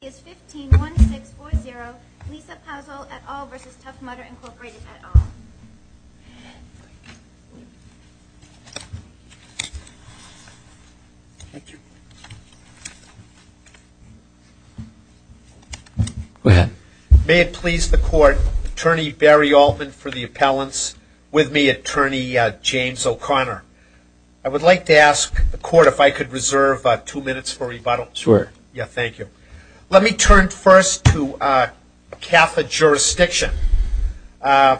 is 15-1-6-4-0 Lisa Pazol et al. v. Tough Mudder Incorporated et al. Go ahead. May it please the court, Attorney Barry Altman for the appellants, with me Attorney James O'Connor. I would like to ask the court if I could reserve two minutes for rebuttal. Sure. Yeah, thank you. Let me turn first to CAFA jurisdiction. I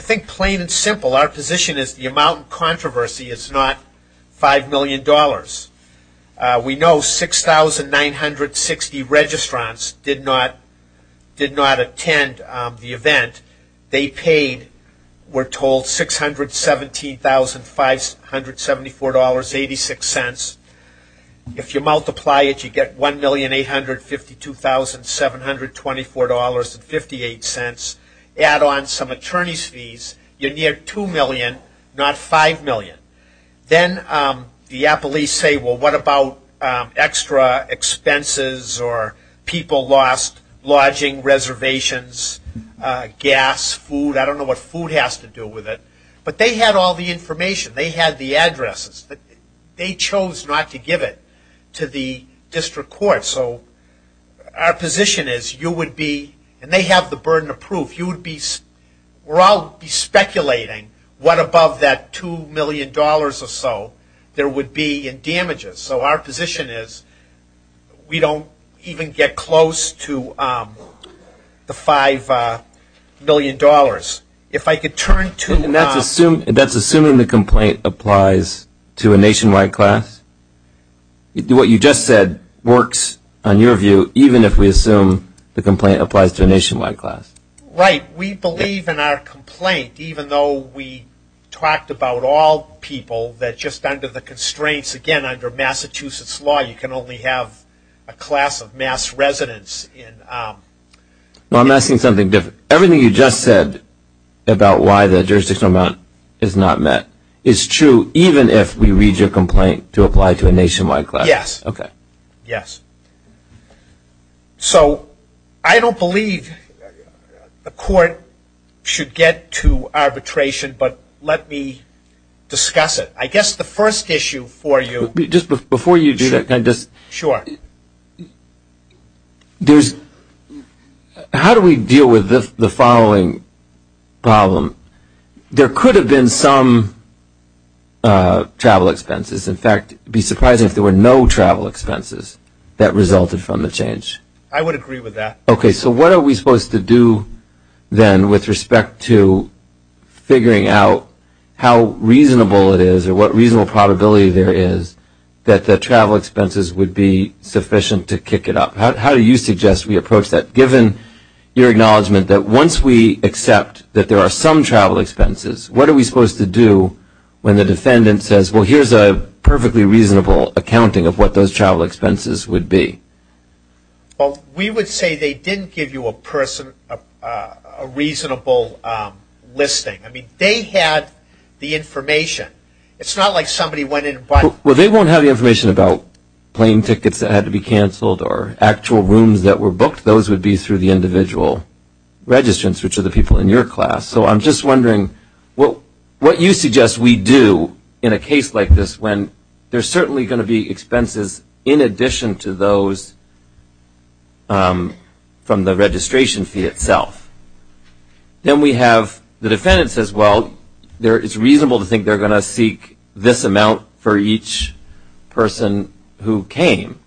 think plain and simple, our position is the amount in controversy is not $5 million. We know 6,960 registrants did not attend the event. They paid, we're told, $617,574.86. If you multiply it, you get $1,852,724.58. Add on some attorney's fees, you're near $2 million, not $5 million. Then the appellees say, well, what about extra expenses or people lost lodging reservations, gas, food? I don't know what food has to do with it. But they had all the information. They had the addresses. They chose not to give it to the district court. So our position is you would be, and they have the burden of proof, we're all speculating what above that $2 million or so there would be in damages. So our position is we don't even get close to the $5 million. And that's assuming the complaint applies to a nationwide class? What you just said works on your view, even if we assume the complaint applies to a nationwide class? Right. We believe in our complaint, even though we talked about all people that just under the constraints, again, under Massachusetts law, you can only have a class of mass residents. Well, I'm asking something different. Everything you just said about why the jurisdictional amount is not met is true, even if we read your complaint to apply to a nationwide class? Yes. Okay. Yes. So I don't believe the court should get to arbitration, but let me discuss it. I guess the first issue for you. Just before you do that, can I just? Sure. How do we deal with the following problem? There could have been some travel expenses. In fact, it would be surprising if there were no travel expenses that resulted from the change. I would agree with that. Okay. So what are we supposed to do then with respect to figuring out how reasonable it is or what reasonable probability there is that the travel expenses would be sufficient to kick it up? How do you suggest we approach that, given your acknowledgement that once we accept that there are some travel expenses, what are we supposed to do when the defendant says, well, here's a perfectly reasonable accounting of what those travel expenses would be? Well, we would say they didn't give you a reasonable listing. I mean, they had the information. It's not like somebody went in and bought it. Well, they won't have the information about plane tickets that had to be canceled or actual rooms that were booked. Those would be through the individual registrants, which are the people in your class. So I'm just wondering what you suggest we do in a case like this when there's certainly going to be expenses in addition to those from the registration fee itself. Then we have the defendant says, well, it's reasonable to think they're going to seek this amount for each person who came.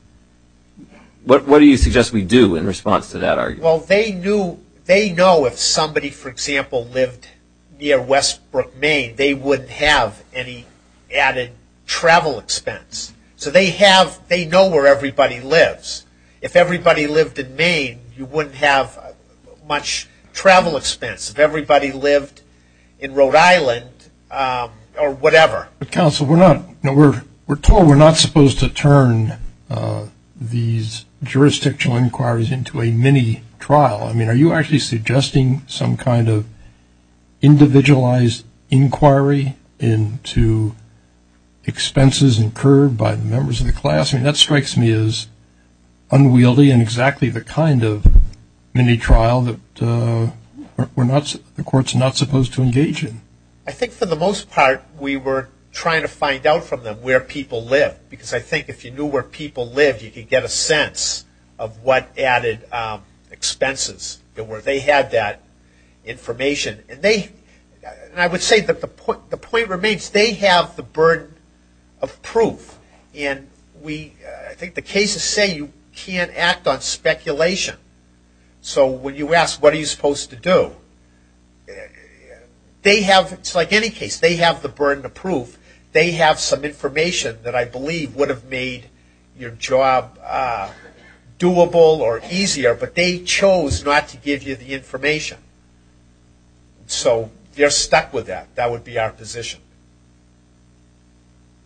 What do you suggest we do in response to that argument? Well, they know if somebody, for example, lived near Westbrook, Maine, they wouldn't have any added travel expense. So they know where everybody lives. If everybody lived in Maine, you wouldn't have much travel expense. If everybody lived in Rhode Island or whatever. Counsel, we're told we're not supposed to turn these jurisdictional inquiries into a mini trial. I mean, are you actually suggesting some kind of individualized inquiry into expenses incurred by the members of the class? I mean, that strikes me as unwieldy and exactly the kind of mini trial that the court's not supposed to engage in. I think for the most part we were trying to find out from them where people live. Because I think if you knew where people lived, you could get a sense of what added expenses. They had that information. I would say that the point remains they have the burden of proof. I think the cases say you can't act on speculation. So when you ask what are you supposed to do, it's like any case, they have the burden of proof. They have some information that I believe would have made your job doable or easier, but they chose not to give you the information. So they're stuck with that. That would be our position.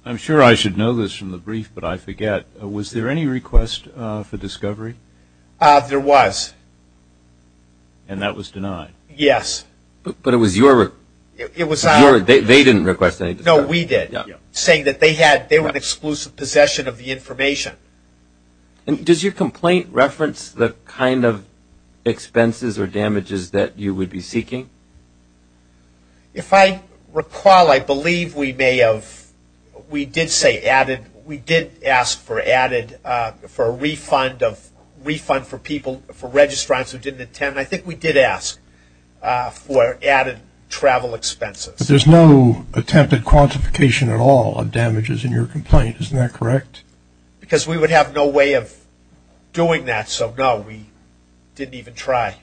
I'm sure I should know this from the brief, but I forget. Was there any request for discovery? There was. And that was denied? Yes. But it was your request? They didn't request any discovery? No, we did. Saying that they had, they were in exclusive possession of the information. And does your complaint reference the kind of expenses or damages that you would be seeking? If I recall, I believe we may have, we did say added, we did ask for a refund for people, for registrants who didn't attend. And I think we did ask for added travel expenses. But there's no attempted quantification at all of damages in your complaint. Isn't that correct? Because we would have no way of doing that. So, no, we didn't even try.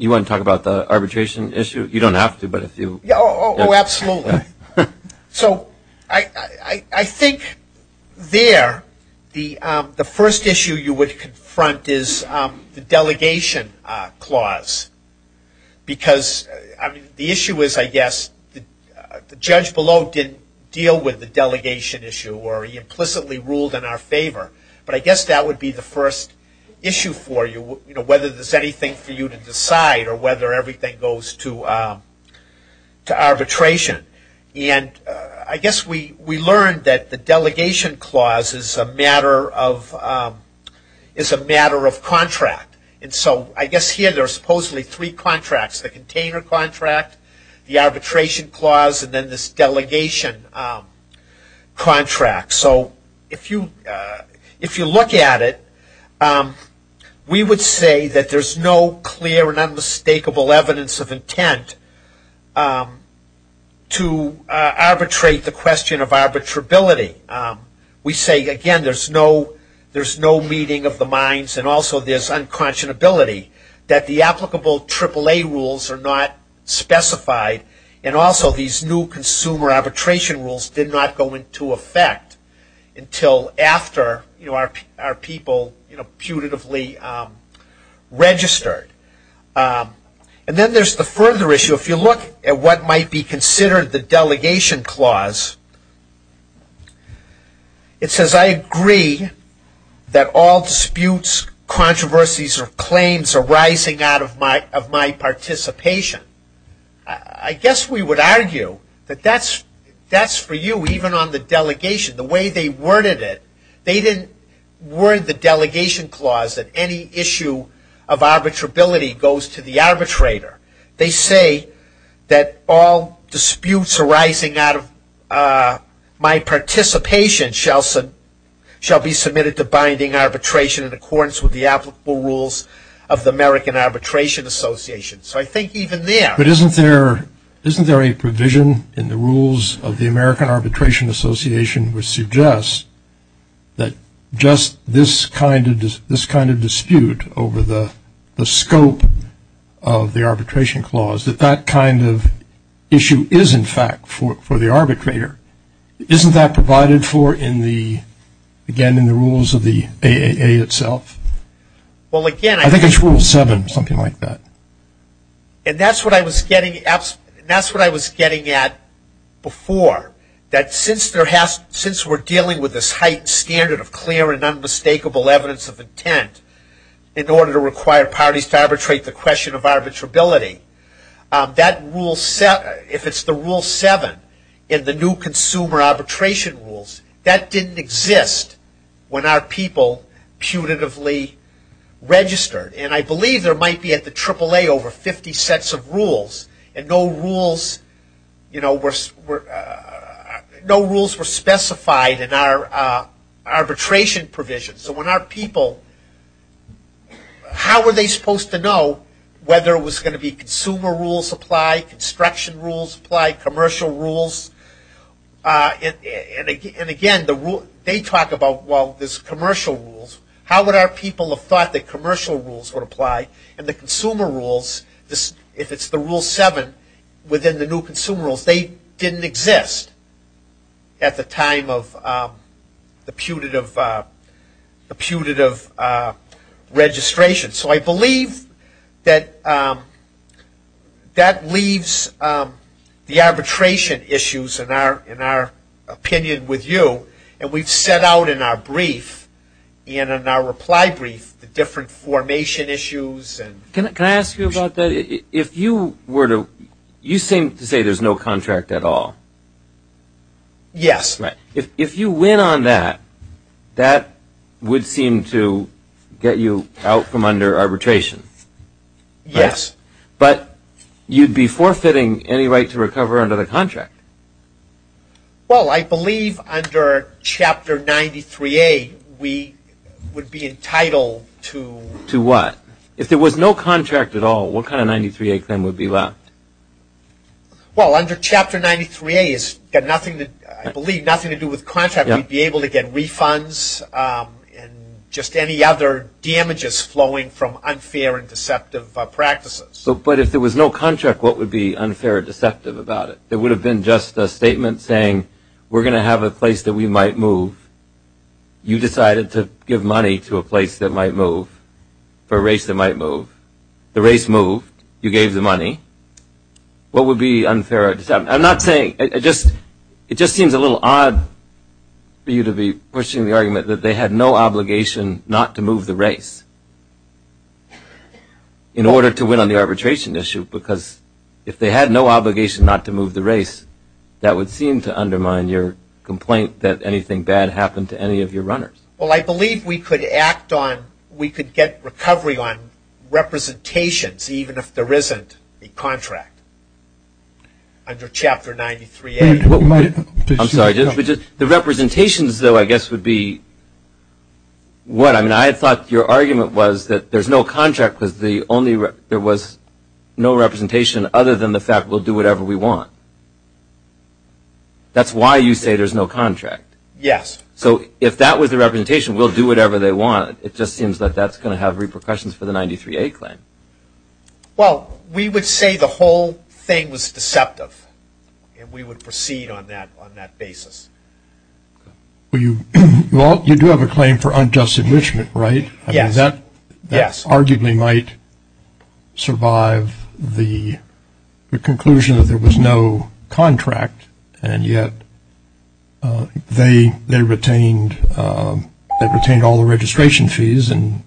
You want to talk about the arbitration issue? You don't have to, but if you. Oh, absolutely. So, I think there the first issue you would confront is the delegation clause. Because the issue is, I guess, the judge below didn't deal with the delegation issue or he implicitly ruled in our favor. But I guess that would be the first issue for you, whether there's anything for you to decide or whether everything goes to arbitration. And I guess we learned that the delegation clause is a matter of contract. And so I guess here there are supposedly three contracts, the container contract, the arbitration clause, and then this delegation contract. So, if you look at it, we would say that there's no clear and unmistakable evidence of intent to arbitrate the question of arbitrability. We say, again, there's no meeting of the minds and also there's unconscionability that the applicable AAA rules are not specified and also these new consumer arbitration rules did not go into effect until after our people putatively registered. And then there's the further issue. If you look at what might be considered the delegation clause, it says, I agree that all disputes, controversies, or claims arising out of my participation. I guess we would argue that that's for you, even on the delegation. The way they worded it, they didn't word the delegation clause that any issue of arbitrability goes to the arbitrator. They say that all disputes arising out of my participation shall be submitted to binding arbitration in accordance with the applicable rules of the American Arbitration Association. So, I think even there. But isn't there a provision in the rules of the American Arbitration Association which suggests that just this kind of dispute over the scope of the arbitration clause, that that kind of issue is, in fact, for the arbitrator. Isn't that provided for, again, in the rules of the AAA itself? I think it's rule seven, something like that. And that's what I was getting at before, that since we're dealing with this heightened standard of clear and unmistakable evidence of intent in order to require parties to arbitrate the question of arbitrability, if it's the rule seven in the new consumer arbitration rules, that didn't exist when our people putatively registered. And I believe there might be at the AAA over 50 sets of rules, and no rules were specified in our arbitration provisions. So, when our people, how were they supposed to know whether it was going to be consumer rules apply, construction rules apply, commercial rules? And, again, they talk about, well, there's commercial rules. How would our people have thought that commercial rules would apply? And the consumer rules, if it's the rule seven within the new consumer rules, they didn't exist at the time of the putative registration. So, I believe that that leaves the arbitration issues in our opinion with you. And we've set out in our brief, in our reply brief, the different formation issues. Can I ask you about that? If you were to, you seem to say there's no contract at all. Yes. If you win on that, that would seem to get you out from under arbitration. Yes. But you'd be forfeiting any right to recover under the contract. Well, I believe under Chapter 93A we would be entitled to. To what? If there was no contract at all, what kind of 93A claim would be left? Well, under Chapter 93A, it's got nothing to, I believe, nothing to do with contract. We'd be able to get refunds and just any other damages flowing from unfair and deceptive practices. But if there was no contract, what would be unfair and deceptive about it? There would have been just a statement saying, we're going to have a place that we might move. You decided to give money to a place that might move, for a race that might move. The race moved. You gave the money. What would be unfair or deceptive? I'm not saying, it just seems a little odd for you to be pushing the argument that they had no obligation not to move the race in order to win on the arbitration issue because if they had no obligation not to move the race, that would seem to undermine your complaint that anything bad happened to any of your runners. Well, I believe we could act on, we could get recovery on representations, even if there isn't a contract under Chapter 93A. I'm sorry. The representations, though, I guess would be what? I mean, I thought your argument was that there's no contract because there was no representation other than the fact we'll do whatever we want. That's why you say there's no contract. Yes. So if that was the representation, we'll do whatever they want. It just seems that that's going to have repercussions for the 93A claim. Well, we would say the whole thing was deceptive, and we would proceed on that basis. Well, you do have a claim for unjust enrichment, right? Yes. That arguably might survive the conclusion that there was no contract, and yet they retained all the registration fees and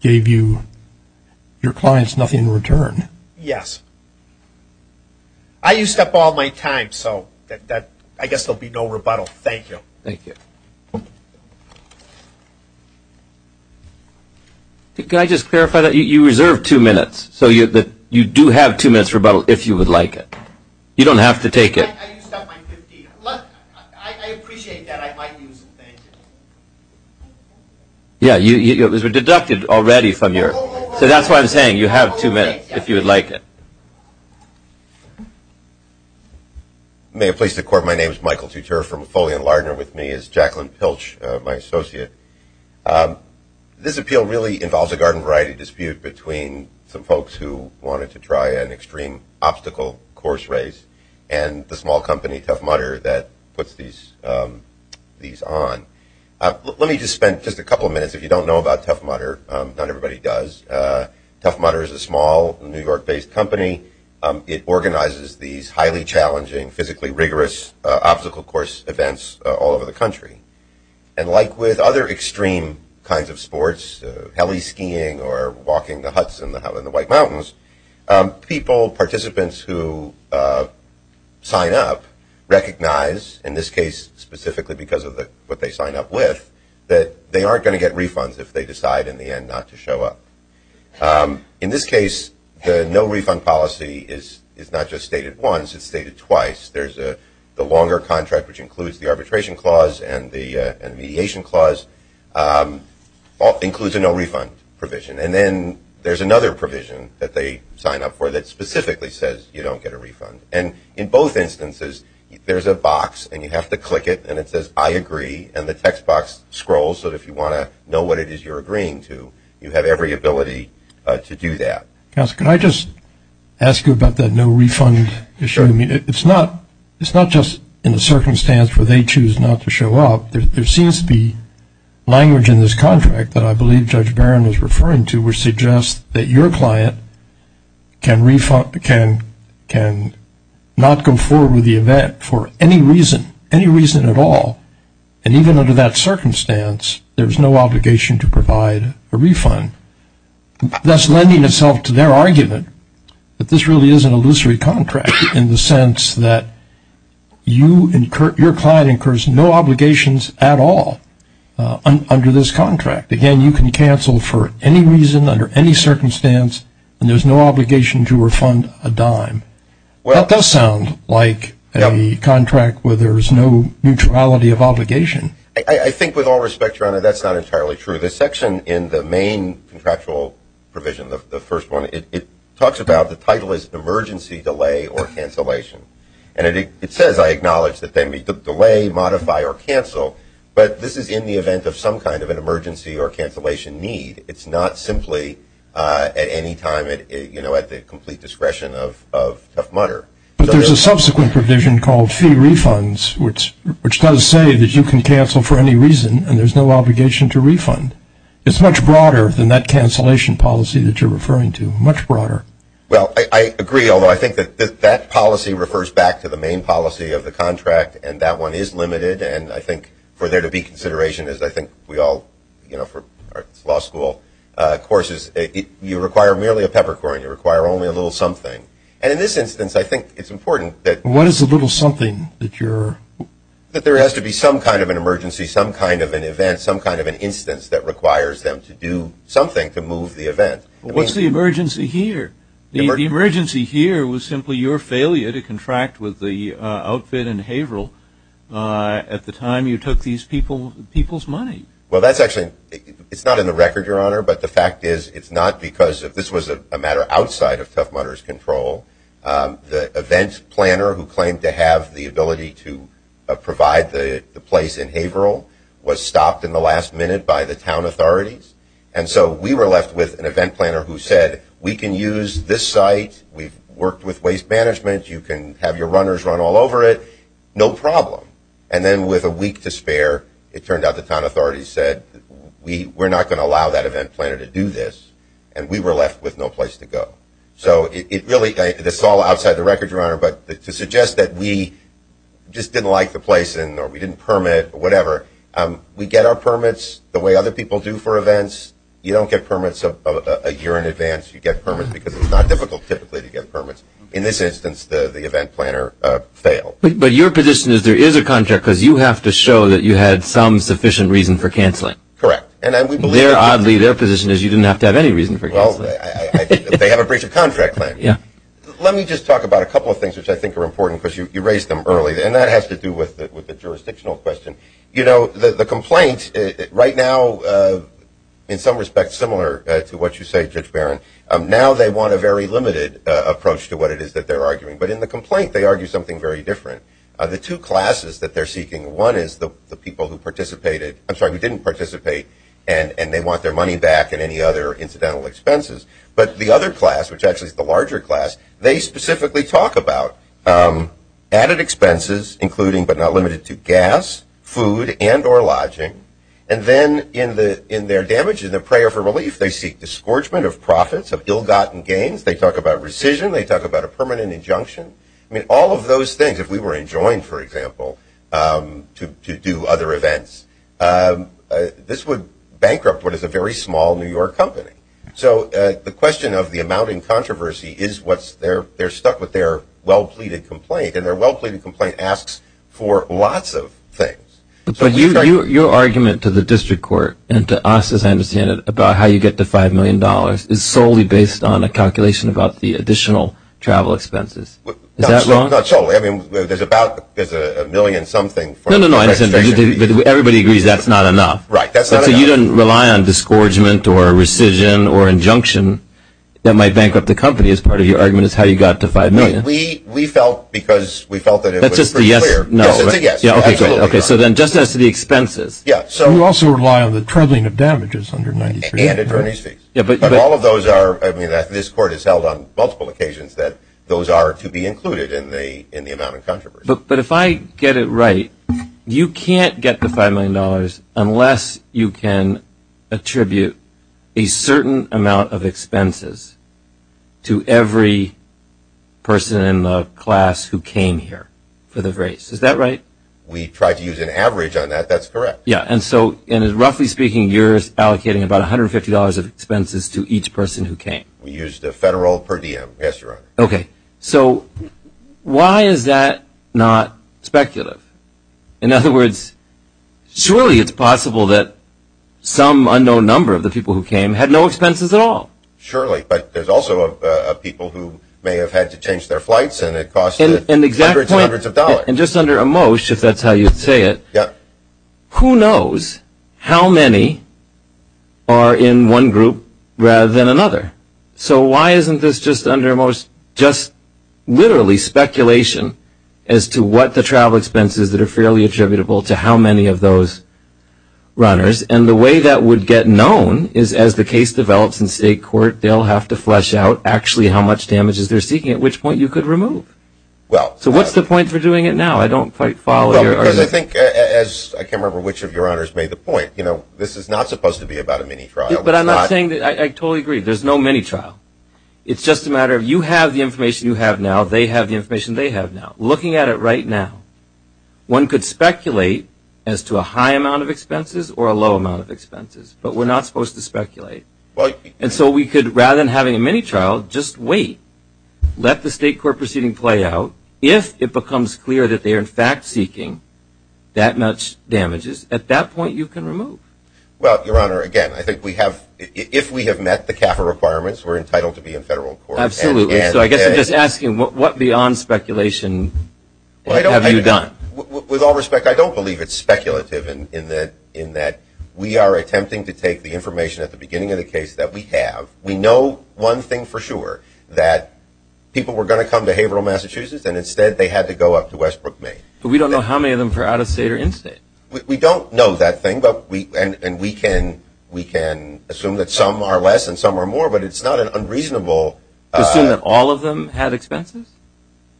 gave your clients nothing in return. Yes. I used up all my time, so I guess there will be no rebuttal. Thank you. Thank you. Can I just clarify that? You reserved two minutes, so you do have two minutes for rebuttal if you would like it. You don't have to take it. I used up my 15. I appreciate that. I might use it. Thank you. Yes. It was deducted already from your – so that's why I'm saying you have two minutes if you would like it. May it please the Court. My name is Michael Tuter from Foley & Lardner. With me is Jacqueline Pilch, my associate. This appeal really involves a garden variety dispute between some folks who wanted to try an extreme obstacle course race and the small company, Tough Mudder, that puts these on. Let me just spend just a couple of minutes. If you don't know about Tough Mudder, not everybody does. Tough Mudder is a small New York-based company. It organizes these highly challenging, physically rigorous obstacle course events all over the country. And like with other extreme kinds of sports, heli skiing or walking the huts in the White Mountains, people, participants who sign up, recognize, in this case specifically because of what they sign up with, that they aren't going to get refunds if they decide in the end not to show up. In this case, the no refund policy is not just stated once, it's stated twice. There's the longer contract, which includes the arbitration clause and the mediation clause includes a no refund provision. And then there's another provision that they sign up for that specifically says you don't get a refund. And in both instances, there's a box and you have to click it and it says, I agree, and the text box scrolls so that if you want to know what it is you're agreeing to, you have every ability to do that. Counselor, can I just ask you about that no refund issue? I mean, it's not just in the circumstance where they choose not to show up. There seems to be language in this contract that I believe Judge Barron is referring to which suggests that your client can not go forward with the event for any reason, any reason at all. And even under that circumstance, there's no obligation to provide a refund. Thus lending itself to their argument that this really is an illusory contract in the sense that you and your client incurs no obligations at all under this contract. Again, you can cancel for any reason under any circumstance and there's no obligation to refund a dime. That does sound like a contract where there's no neutrality of obligation. I think with all respect, Your Honor, that's not entirely true. Under this section in the main contractual provision, the first one, it talks about the title is emergency delay or cancellation. And it says, I acknowledge, that they may delay, modify, or cancel, but this is in the event of some kind of an emergency or cancellation need. It's not simply at any time at the complete discretion of Tough Mudder. But there's a subsequent provision called fee refunds, which does say that you can cancel for any reason and there's no obligation to refund. It's much broader than that cancellation policy that you're referring to, much broader. Well, I agree, although I think that that policy refers back to the main policy of the contract, and that one is limited. And I think for there to be consideration, as I think we all, you know, for law school courses, you require merely a peppercorn. You require only a little something. And in this instance, I think it's important that What is a little something that you're That there has to be some kind of an emergency, some kind of an event, some kind of an instance that requires them to do something to move the event. What's the emergency here? The emergency here was simply your failure to contract with the outfit in Haverhill at the time you took these people's money. Well, that's actually, it's not in the record, Your Honor, but the fact is it's not because this was a matter outside of Tough Mudder's control. The event planner who claimed to have the ability to provide the place in Haverhill was stopped in the last minute by the town authorities. And so we were left with an event planner who said, We can use this site, we've worked with waste management, you can have your runners run all over it, no problem. And then with a week to spare, it turned out the town authorities said, We're not going to allow that event planner to do this, and we were left with no place to go. So it really, this is all outside the record, Your Honor, but to suggest that we just didn't like the place or we didn't permit or whatever, we get our permits the way other people do for events. You don't get permits a year in advance. You get permits because it's not difficult typically to get permits. In this instance, the event planner failed. But your position is there is a contract because you have to show that you had some sufficient reason for cancelling. Correct. They have a breach of contract plan. Let me just talk about a couple of things which I think are important because you raised them early, and that has to do with the jurisdictional question. You know, the complaint right now, in some respects similar to what you say, Judge Barron, now they want a very limited approach to what it is that they're arguing. But in the complaint, they argue something very different. The two classes that they're seeking, one is the people who participated, I'm sorry, who didn't participate, and they want their money back and any other incidental expenses. But the other class, which actually is the larger class, they specifically talk about added expenses, including but not limited to gas, food, and or lodging. And then in their damages, in their prayer for relief, they seek disgorgement of profits, of ill-gotten gains. They talk about rescission. They talk about a permanent injunction. I mean, all of those things, if we were enjoined, for example, to do other events, this would bankrupt what is a very small New York company. So the question of the amount in controversy is what's there. They're stuck with their well-pleaded complaint, and their well-pleaded complaint asks for lots of things. But your argument to the district court and to us, as I understand it, about how you get to $5 million is solely based on a calculation about the additional travel expenses. Is that wrong? Not solely. I mean, there's about a million-something. No, no, no. Everybody agrees that's not enough. Right, that's not enough. So you don't rely on disgorgement or rescission or injunction that might bankrupt the company as part of your argument is how you got to $5 million. We felt because we felt that it was pretty clear. That's just a yes or no, right? Yes, it's a yes. Okay, so then just as to the expenses. Yeah, so. You also rely on the troubling of damages under 93. And attorney's fees. Yeah, but. But all of those are. I mean, this court has held on multiple occasions that those are to be included in the amount in controversy. But if I get it right, you can't get the $5 million unless you can attribute a certain amount of expenses to every person in the class who came here for the race. Is that right? We tried to use an average on that. That's correct. Yeah, and so, roughly speaking, you're allocating about $150 of expenses to each person who came. We used a federal per diem. Yes, Your Honor. Okay, so why is that not speculative? In other words, surely it's possible that some unknown number of the people who came had no expenses at all. Surely, but there's also people who may have had to change their flights and it cost hundreds and hundreds of dollars. Well, and just under a most, if that's how you'd say it, who knows how many are in one group rather than another. So why isn't this just under most just literally speculation as to what the travel expenses that are fairly attributable to how many of those runners? And the way that would get known is as the case develops in state court, they'll have to flesh out actually how much damages they're seeking, at which point you could remove. So what's the point for doing it now? I don't quite follow your argument. Well, because I think, as I can't remember which of your honors made the point, this is not supposed to be about a mini trial. But I'm not saying that. I totally agree. There's no mini trial. It's just a matter of you have the information you have now, they have the information they have now. Looking at it right now, one could speculate as to a high amount of expenses or a low amount of expenses, but we're not supposed to speculate. And so we could, rather than having a mini trial, just wait. Let the state court proceeding play out. If it becomes clear that they are, in fact, seeking that much damages, at that point you can remove. Well, Your Honor, again, I think we have, if we have met the CAFA requirements, we're entitled to be in federal court. Absolutely. So I guess I'm just asking what beyond speculation have you done? With all respect, I don't believe it's speculative in that we are attempting to take the information at the beginning of the case that we have. We know one thing for sure, that people were going to come to Haverhill, Massachusetts, and instead they had to go up to Westbrook, Maine. But we don't know how many of them are out of state or in state. We don't know that thing, and we can assume that some are less and some are more, but it's not unreasonable. To assume that all of them had expenses?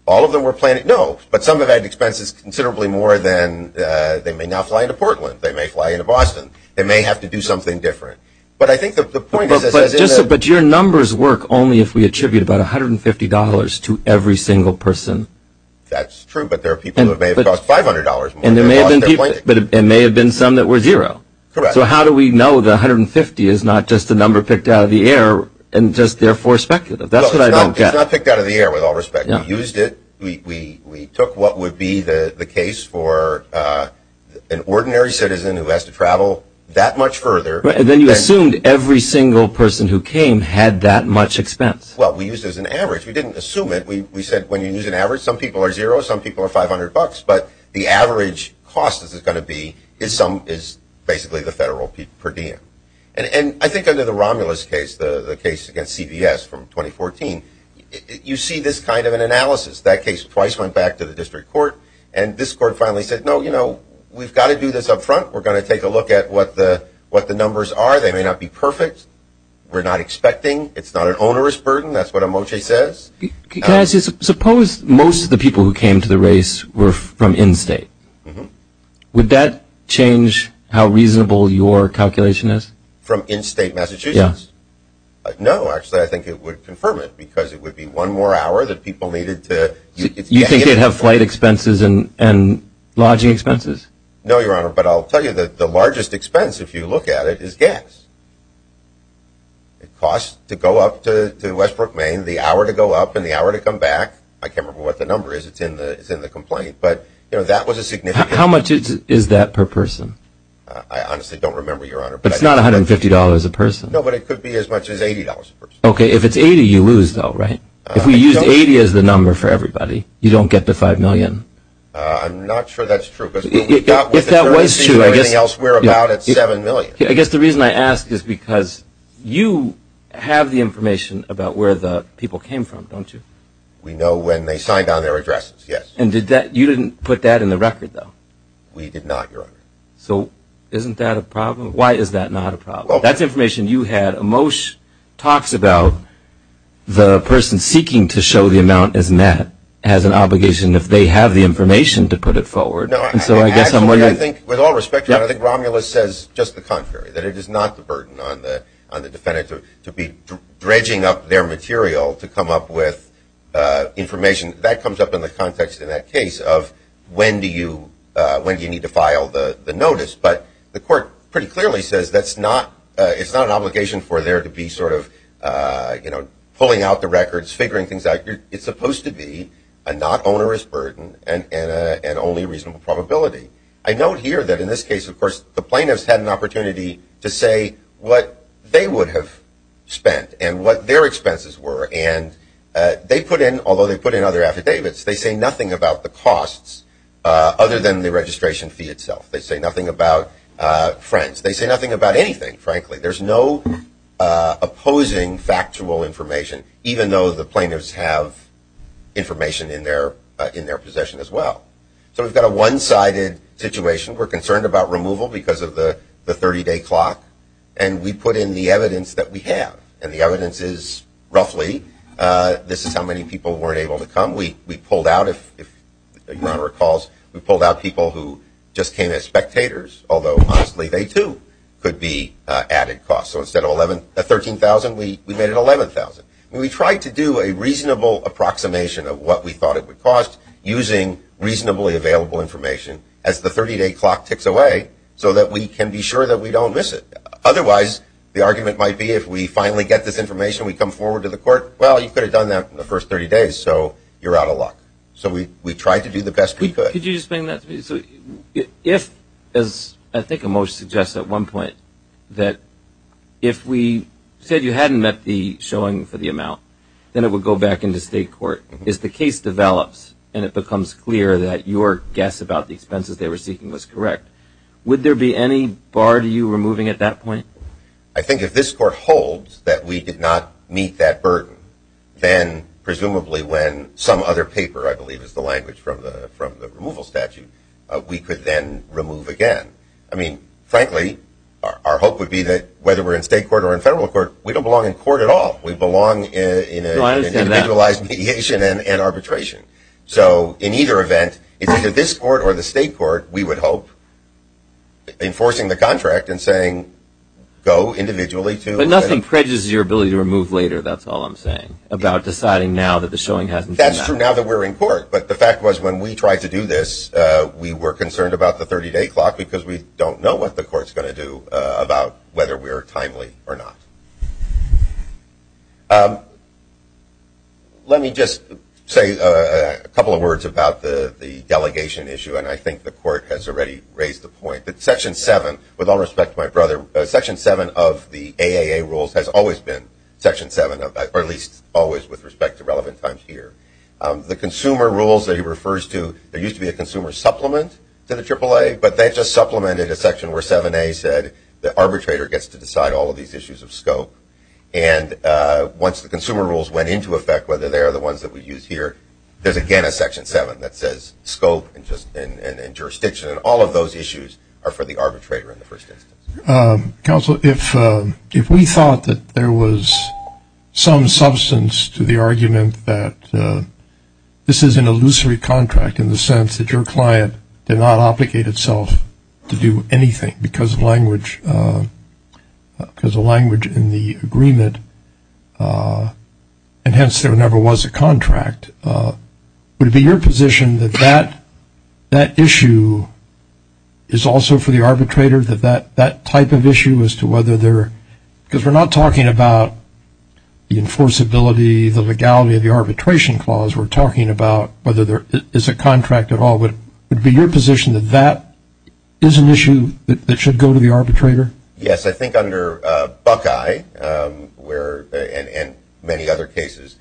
All of them were planned. No, but some of them had expenses considerably more than they may now fly to Portland. They may fly into Boston. They may have to do something different. But I think the point is, as in the – But your numbers work only if we attribute about $150 to every single person. That's true, but there are people who may have cost $500 more. And there may have been some that were zero. Correct. So how do we know the $150 is not just a number picked out of the air and just therefore speculative? That's what I don't get. It's not picked out of the air, with all respect. We used it. We took what would be the case for an ordinary citizen who has to travel that much further. And then you assumed every single person who came had that much expense. Well, we used it as an average. We didn't assume it. We said when you use an average, some people are zero, some people are $500. But the average cost, as it's going to be, is basically the federal per diem. And I think under the Romulus case, the case against CBS from 2014, you see this kind of an analysis. That case twice went back to the district court. And this court finally said, no, you know, we've got to do this up front. We're going to take a look at what the numbers are. They may not be perfect. We're not expecting. It's not an onerous burden. That's what Amoche says. Can I ask you something? Suppose most of the people who came to the race were from in-state. Would that change how reasonable your calculation is? From in-state Massachusetts? Yeah. No, actually. I think it would confirm it because it would be one more hour that people needed to. You think they'd have flight expenses and lodging expenses? No, Your Honor. But I'll tell you that the largest expense, if you look at it, is gas. It costs to go up to Westbrook, Maine, the hour to go up and the hour to come back. I can't remember what the number is. It's in the complaint. How much is that per person? I honestly don't remember, Your Honor. It's not $150 a person. No, but it could be as much as $80 a person. Okay. If it's $80, you lose, though, right? If we use $80 as the number for everybody, you don't get the $5 million. I'm not sure that's true. If that was true, I guess the reason I ask is because you have the information about where the people came from, don't you? We know when they signed on their addresses, yes. And you didn't put that in the record, though? We did not, Your Honor. So isn't that a problem? Why is that not a problem? That's information you had. A motion talks about the person seeking to show the amount as met has an obligation, if they have the information, to put it forward. No, actually, I think, with all respect, I think Romulus says just the contrary, that it is not the burden on the defendant to be dredging up their material to come up with information. That comes up in the context in that case of when do you need to file the notice. But the court pretty clearly says it's not an obligation for there to be sort of pulling out the records, figuring things out. It's supposed to be a not onerous burden and only reasonable probability. I note here that in this case, of course, the plaintiffs had an opportunity to say what they would have spent and what their expenses were. And they put in, although they put in other affidavits, they say nothing about the costs other than the registration fee itself. They say nothing about friends. They say nothing about anything, frankly. There's no opposing factual information, even though the plaintiffs have information in their possession as well. So we've got a one-sided situation. We're concerned about removal because of the 30-day clock. And we put in the evidence that we have. And the evidence is roughly this is how many people weren't able to come. We pulled out, if Your Honor recalls, we pulled out people who just came as spectators, although honestly they too could be added costs. So instead of $13,000, we made it $11,000. We tried to do a reasonable approximation of what we thought it would cost using reasonably available information as the 30-day clock ticks away so that we can be sure that we don't miss it. Otherwise, the argument might be if we finally get this information, we come forward to the court, well, you could have done that in the first 30 days, so you're out of luck. So we tried to do the best we could. Could you explain that to me? So if, as I think a motion suggests at one point, that if we said you hadn't met the showing for the amount, then it would go back into state court. If the case develops and it becomes clear that your guess about the expenses they were seeking was correct, would there be any bar to you removing at that point? I think if this court holds that we did not meet that burden, then presumably when some other paper, I believe is the language from the removal statute, we could then remove again. I mean, frankly, our hope would be that whether we're in state court or in federal court, we don't belong in court at all. We belong in individualized mediation and arbitration. So in either event, it's either this court or the state court, we would hope, enforcing the contract and saying go individually. But nothing prejudices your ability to remove later, that's all I'm saying, about deciding now that the showing hasn't been met. That's true now that we're in court, but the fact was when we tried to do this, we were concerned about the 30-day clock because we don't know what the court's going to do about whether we're timely or not. Let me just say a couple of words about the delegation issue, and I think the court has already raised the point. But Section 7, with all respect to my brother, Section 7 of the AAA rules has always been Section 7, or at least always with respect to relevant times here. The consumer rules that he refers to, there used to be a consumer supplement to the AAA, but they've just supplemented a section where 7A said the arbitrator gets to decide all of these issues of scope. And once the consumer rules went into effect, whether they are the ones that we use here, there's again a Section 7 that says scope and jurisdiction, and all of those issues are for the arbitrator in the first instance. Counsel, if we thought that there was some substance to the argument that this is an illusory contract in the sense that your client did not obligate itself to do anything because of language in the agreement, and hence there never was a contract, would it be your position that that issue is also for the arbitrator, that that type of issue as to whether there, because we're not talking about the enforceability, the legality of the arbitration clause, as we're talking about whether there is a contract at all, would it be your position that that is an issue that should go to the arbitrator? Yes, I think under Buckeye and many other cases,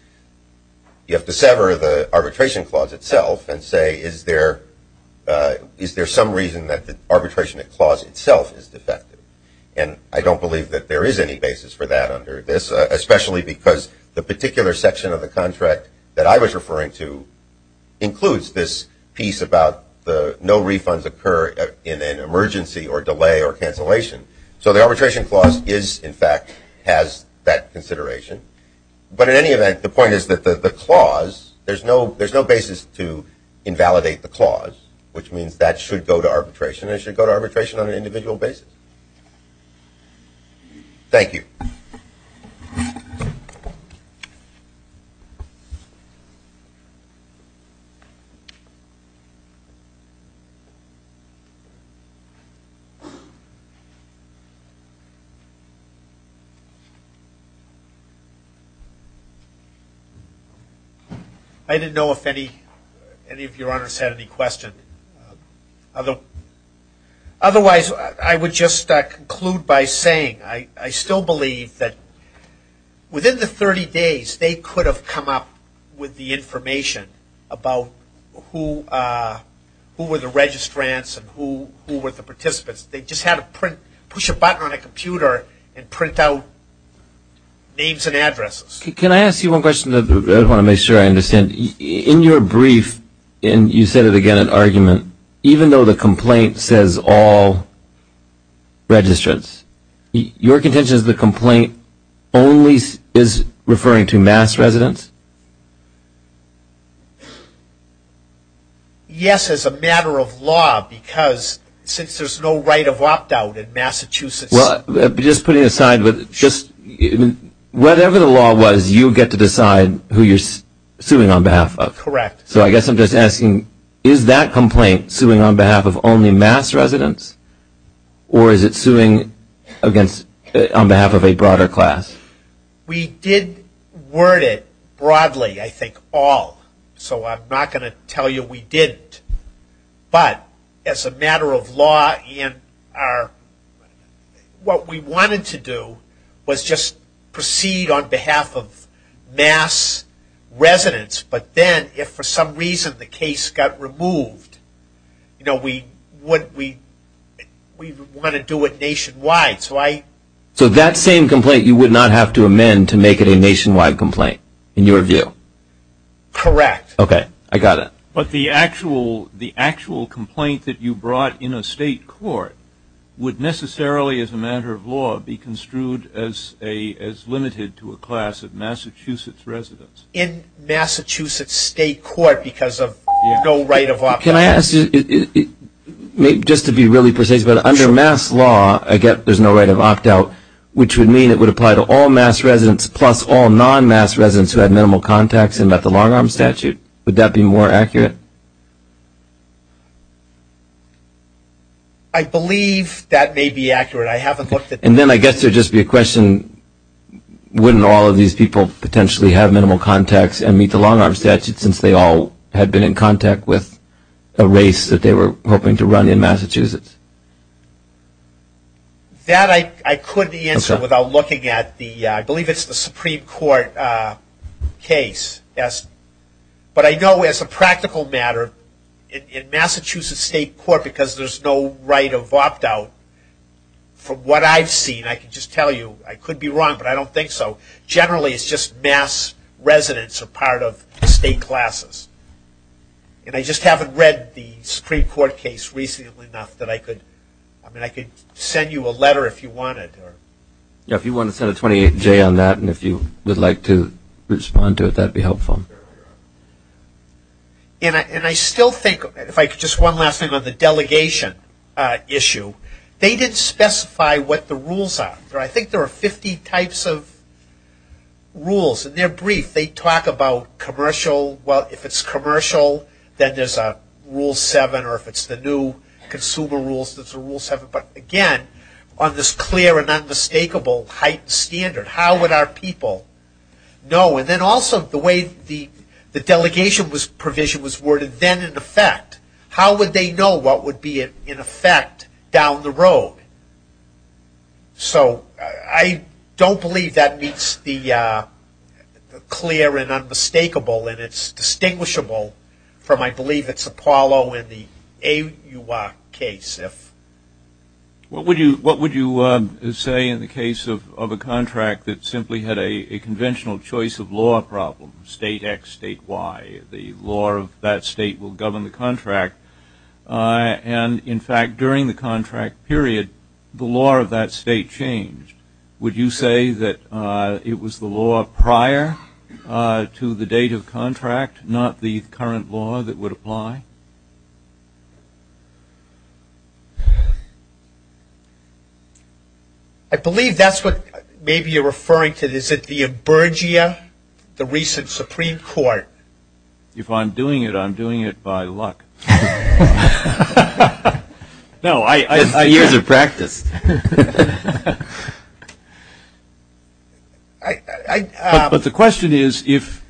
you have to sever the arbitration clause itself and say, is there some reason that the arbitration clause itself is defective? And I don't believe that there is any basis for that under this, especially because the particular section of the contract that I was referring to includes this piece about no refunds occur in an emergency or delay or cancellation. So the arbitration clause is, in fact, has that consideration. But in any event, the point is that the clause, there's no basis to invalidate the clause, which means that should go to arbitration and it should go to arbitration on an individual basis. Thank you. I didn't know if any of your honors had any questions. Otherwise, I would just conclude by saying I still believe that within the 30 days, they could have come up with the information about who were the registrants and who were the participants. They just had to push a button on a computer and print out names and addresses. Can I ask you one question? I want to make sure I understand. In your brief, and you said it again in argument, even though the complaint says all registrants, your contention is the complaint only is referring to mass residents? Yes, as a matter of law, because since there's no right of opt-out in Massachusetts. Well, just putting aside, whatever the law was, you get to decide who you're suing on behalf of. Correct. So I guess I'm just asking, is that complaint suing on behalf of only mass residents, or is it suing on behalf of a broader class? We did word it broadly, I think, all. So I'm not going to tell you we didn't. But as a matter of law, what we wanted to do was just proceed on behalf of mass residents, but then if for some reason the case got removed, we want to do it nationwide. So that same complaint, you would not have to amend to make it a nationwide complaint, in your view? Correct. Okay, I got it. But the actual complaint that you brought in a state court would necessarily, as a matter of law, be construed as limited to a class of Massachusetts residents? In Massachusetts state court because of no right of opt-out. Can I ask, just to be really precise, but under mass law, I get there's no right of opt-out, which would mean it would apply to all mass residents plus all non-mass residents who had minimal contacts and met the long-arm statute? Would that be more accurate? I believe that may be accurate. I haven't looked at that. And then I guess there would just be a question, wouldn't all of these people potentially have minimal contacts and meet the long-arm statute since they all had been in contact with a race that they were hoping to run in Massachusetts? That I couldn't answer without looking at the, I believe it's the Supreme Court case. But I know as a practical matter, in Massachusetts state court because there's no right of opt-out, from what I've seen, I can just tell you, I could be wrong, but I don't think so, generally it's just mass residents are part of state classes. And I just haven't read the Supreme Court case recently enough that I could, I mean I could send you a letter if you wanted. Yeah, if you want to send a 28-J on that and if you would like to respond to it, that would be helpful. And I still think, if I could just one last thing on the delegation issue, they didn't specify what the rules are. I think there are 50 types of rules, and they're brief. If they talk about commercial, well if it's commercial, then there's a rule 7, or if it's the new consumer rules, there's a rule 7. But again, on this clear and unmistakable heightened standard, how would our people know? And then also the way the delegation provision was worded, then in effect, how would they know what would be in effect down the road? So I don't believe that meets the clear and unmistakable, and it's distinguishable from I believe it's Apollo in the AUR case. What would you say in the case of a contract that simply had a conventional choice of law problem, state X, state Y, the law of that state will govern the contract. And in fact, during the contract period, the law of that state changed. Would you say that it was the law prior to the date of contract, not the current law that would apply? I believe that's what maybe you're referring to. Is it the emergia, the recent Supreme Court? If I'm doing it, I'm doing it by luck. No, I use it as practice. But the question is, if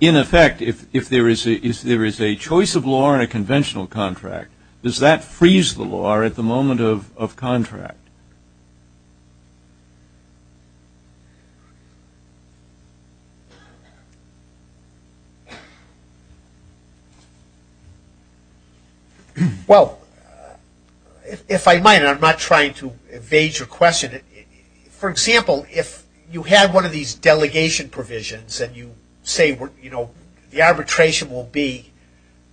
in effect, if there is a choice of law in a conventional contract, does that freeze the law at the moment of contract? Well, if I might, and I'm not trying to evade your question, for example, if you have one of these delegation provisions, and you say the arbitration will be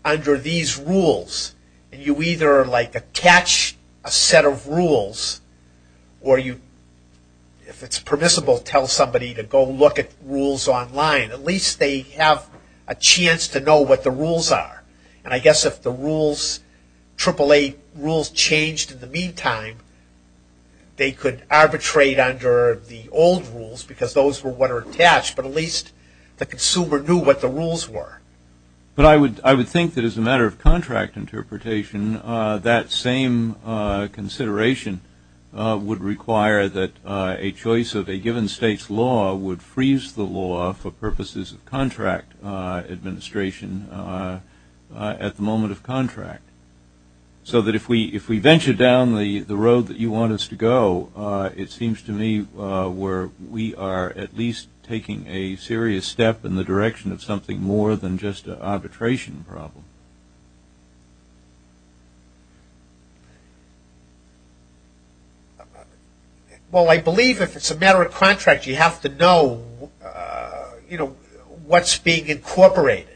under these rules, and you either attach a set of rules, or if it's permissible, tell somebody to go look at rules online. At least they have a chance to know what the rules are. And I guess if the rules, AAA rules, changed in the meantime, they could arbitrate under the old rules because those were what are attached, but at least the consumer knew what the rules were. But I would think that as a matter of contract interpretation, that same consideration would require that a choice of a given state's law would freeze the law for purposes of contract administration at the moment of contract. So that if we venture down the road that you want us to go, it seems to me where we are at least taking a serious step in the direction of something more than just an arbitration problem. Well, I believe if it's a matter of contract, you have to know what's being incorporated.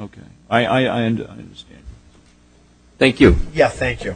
Okay. I understand. Thank you. Yeah, thank you.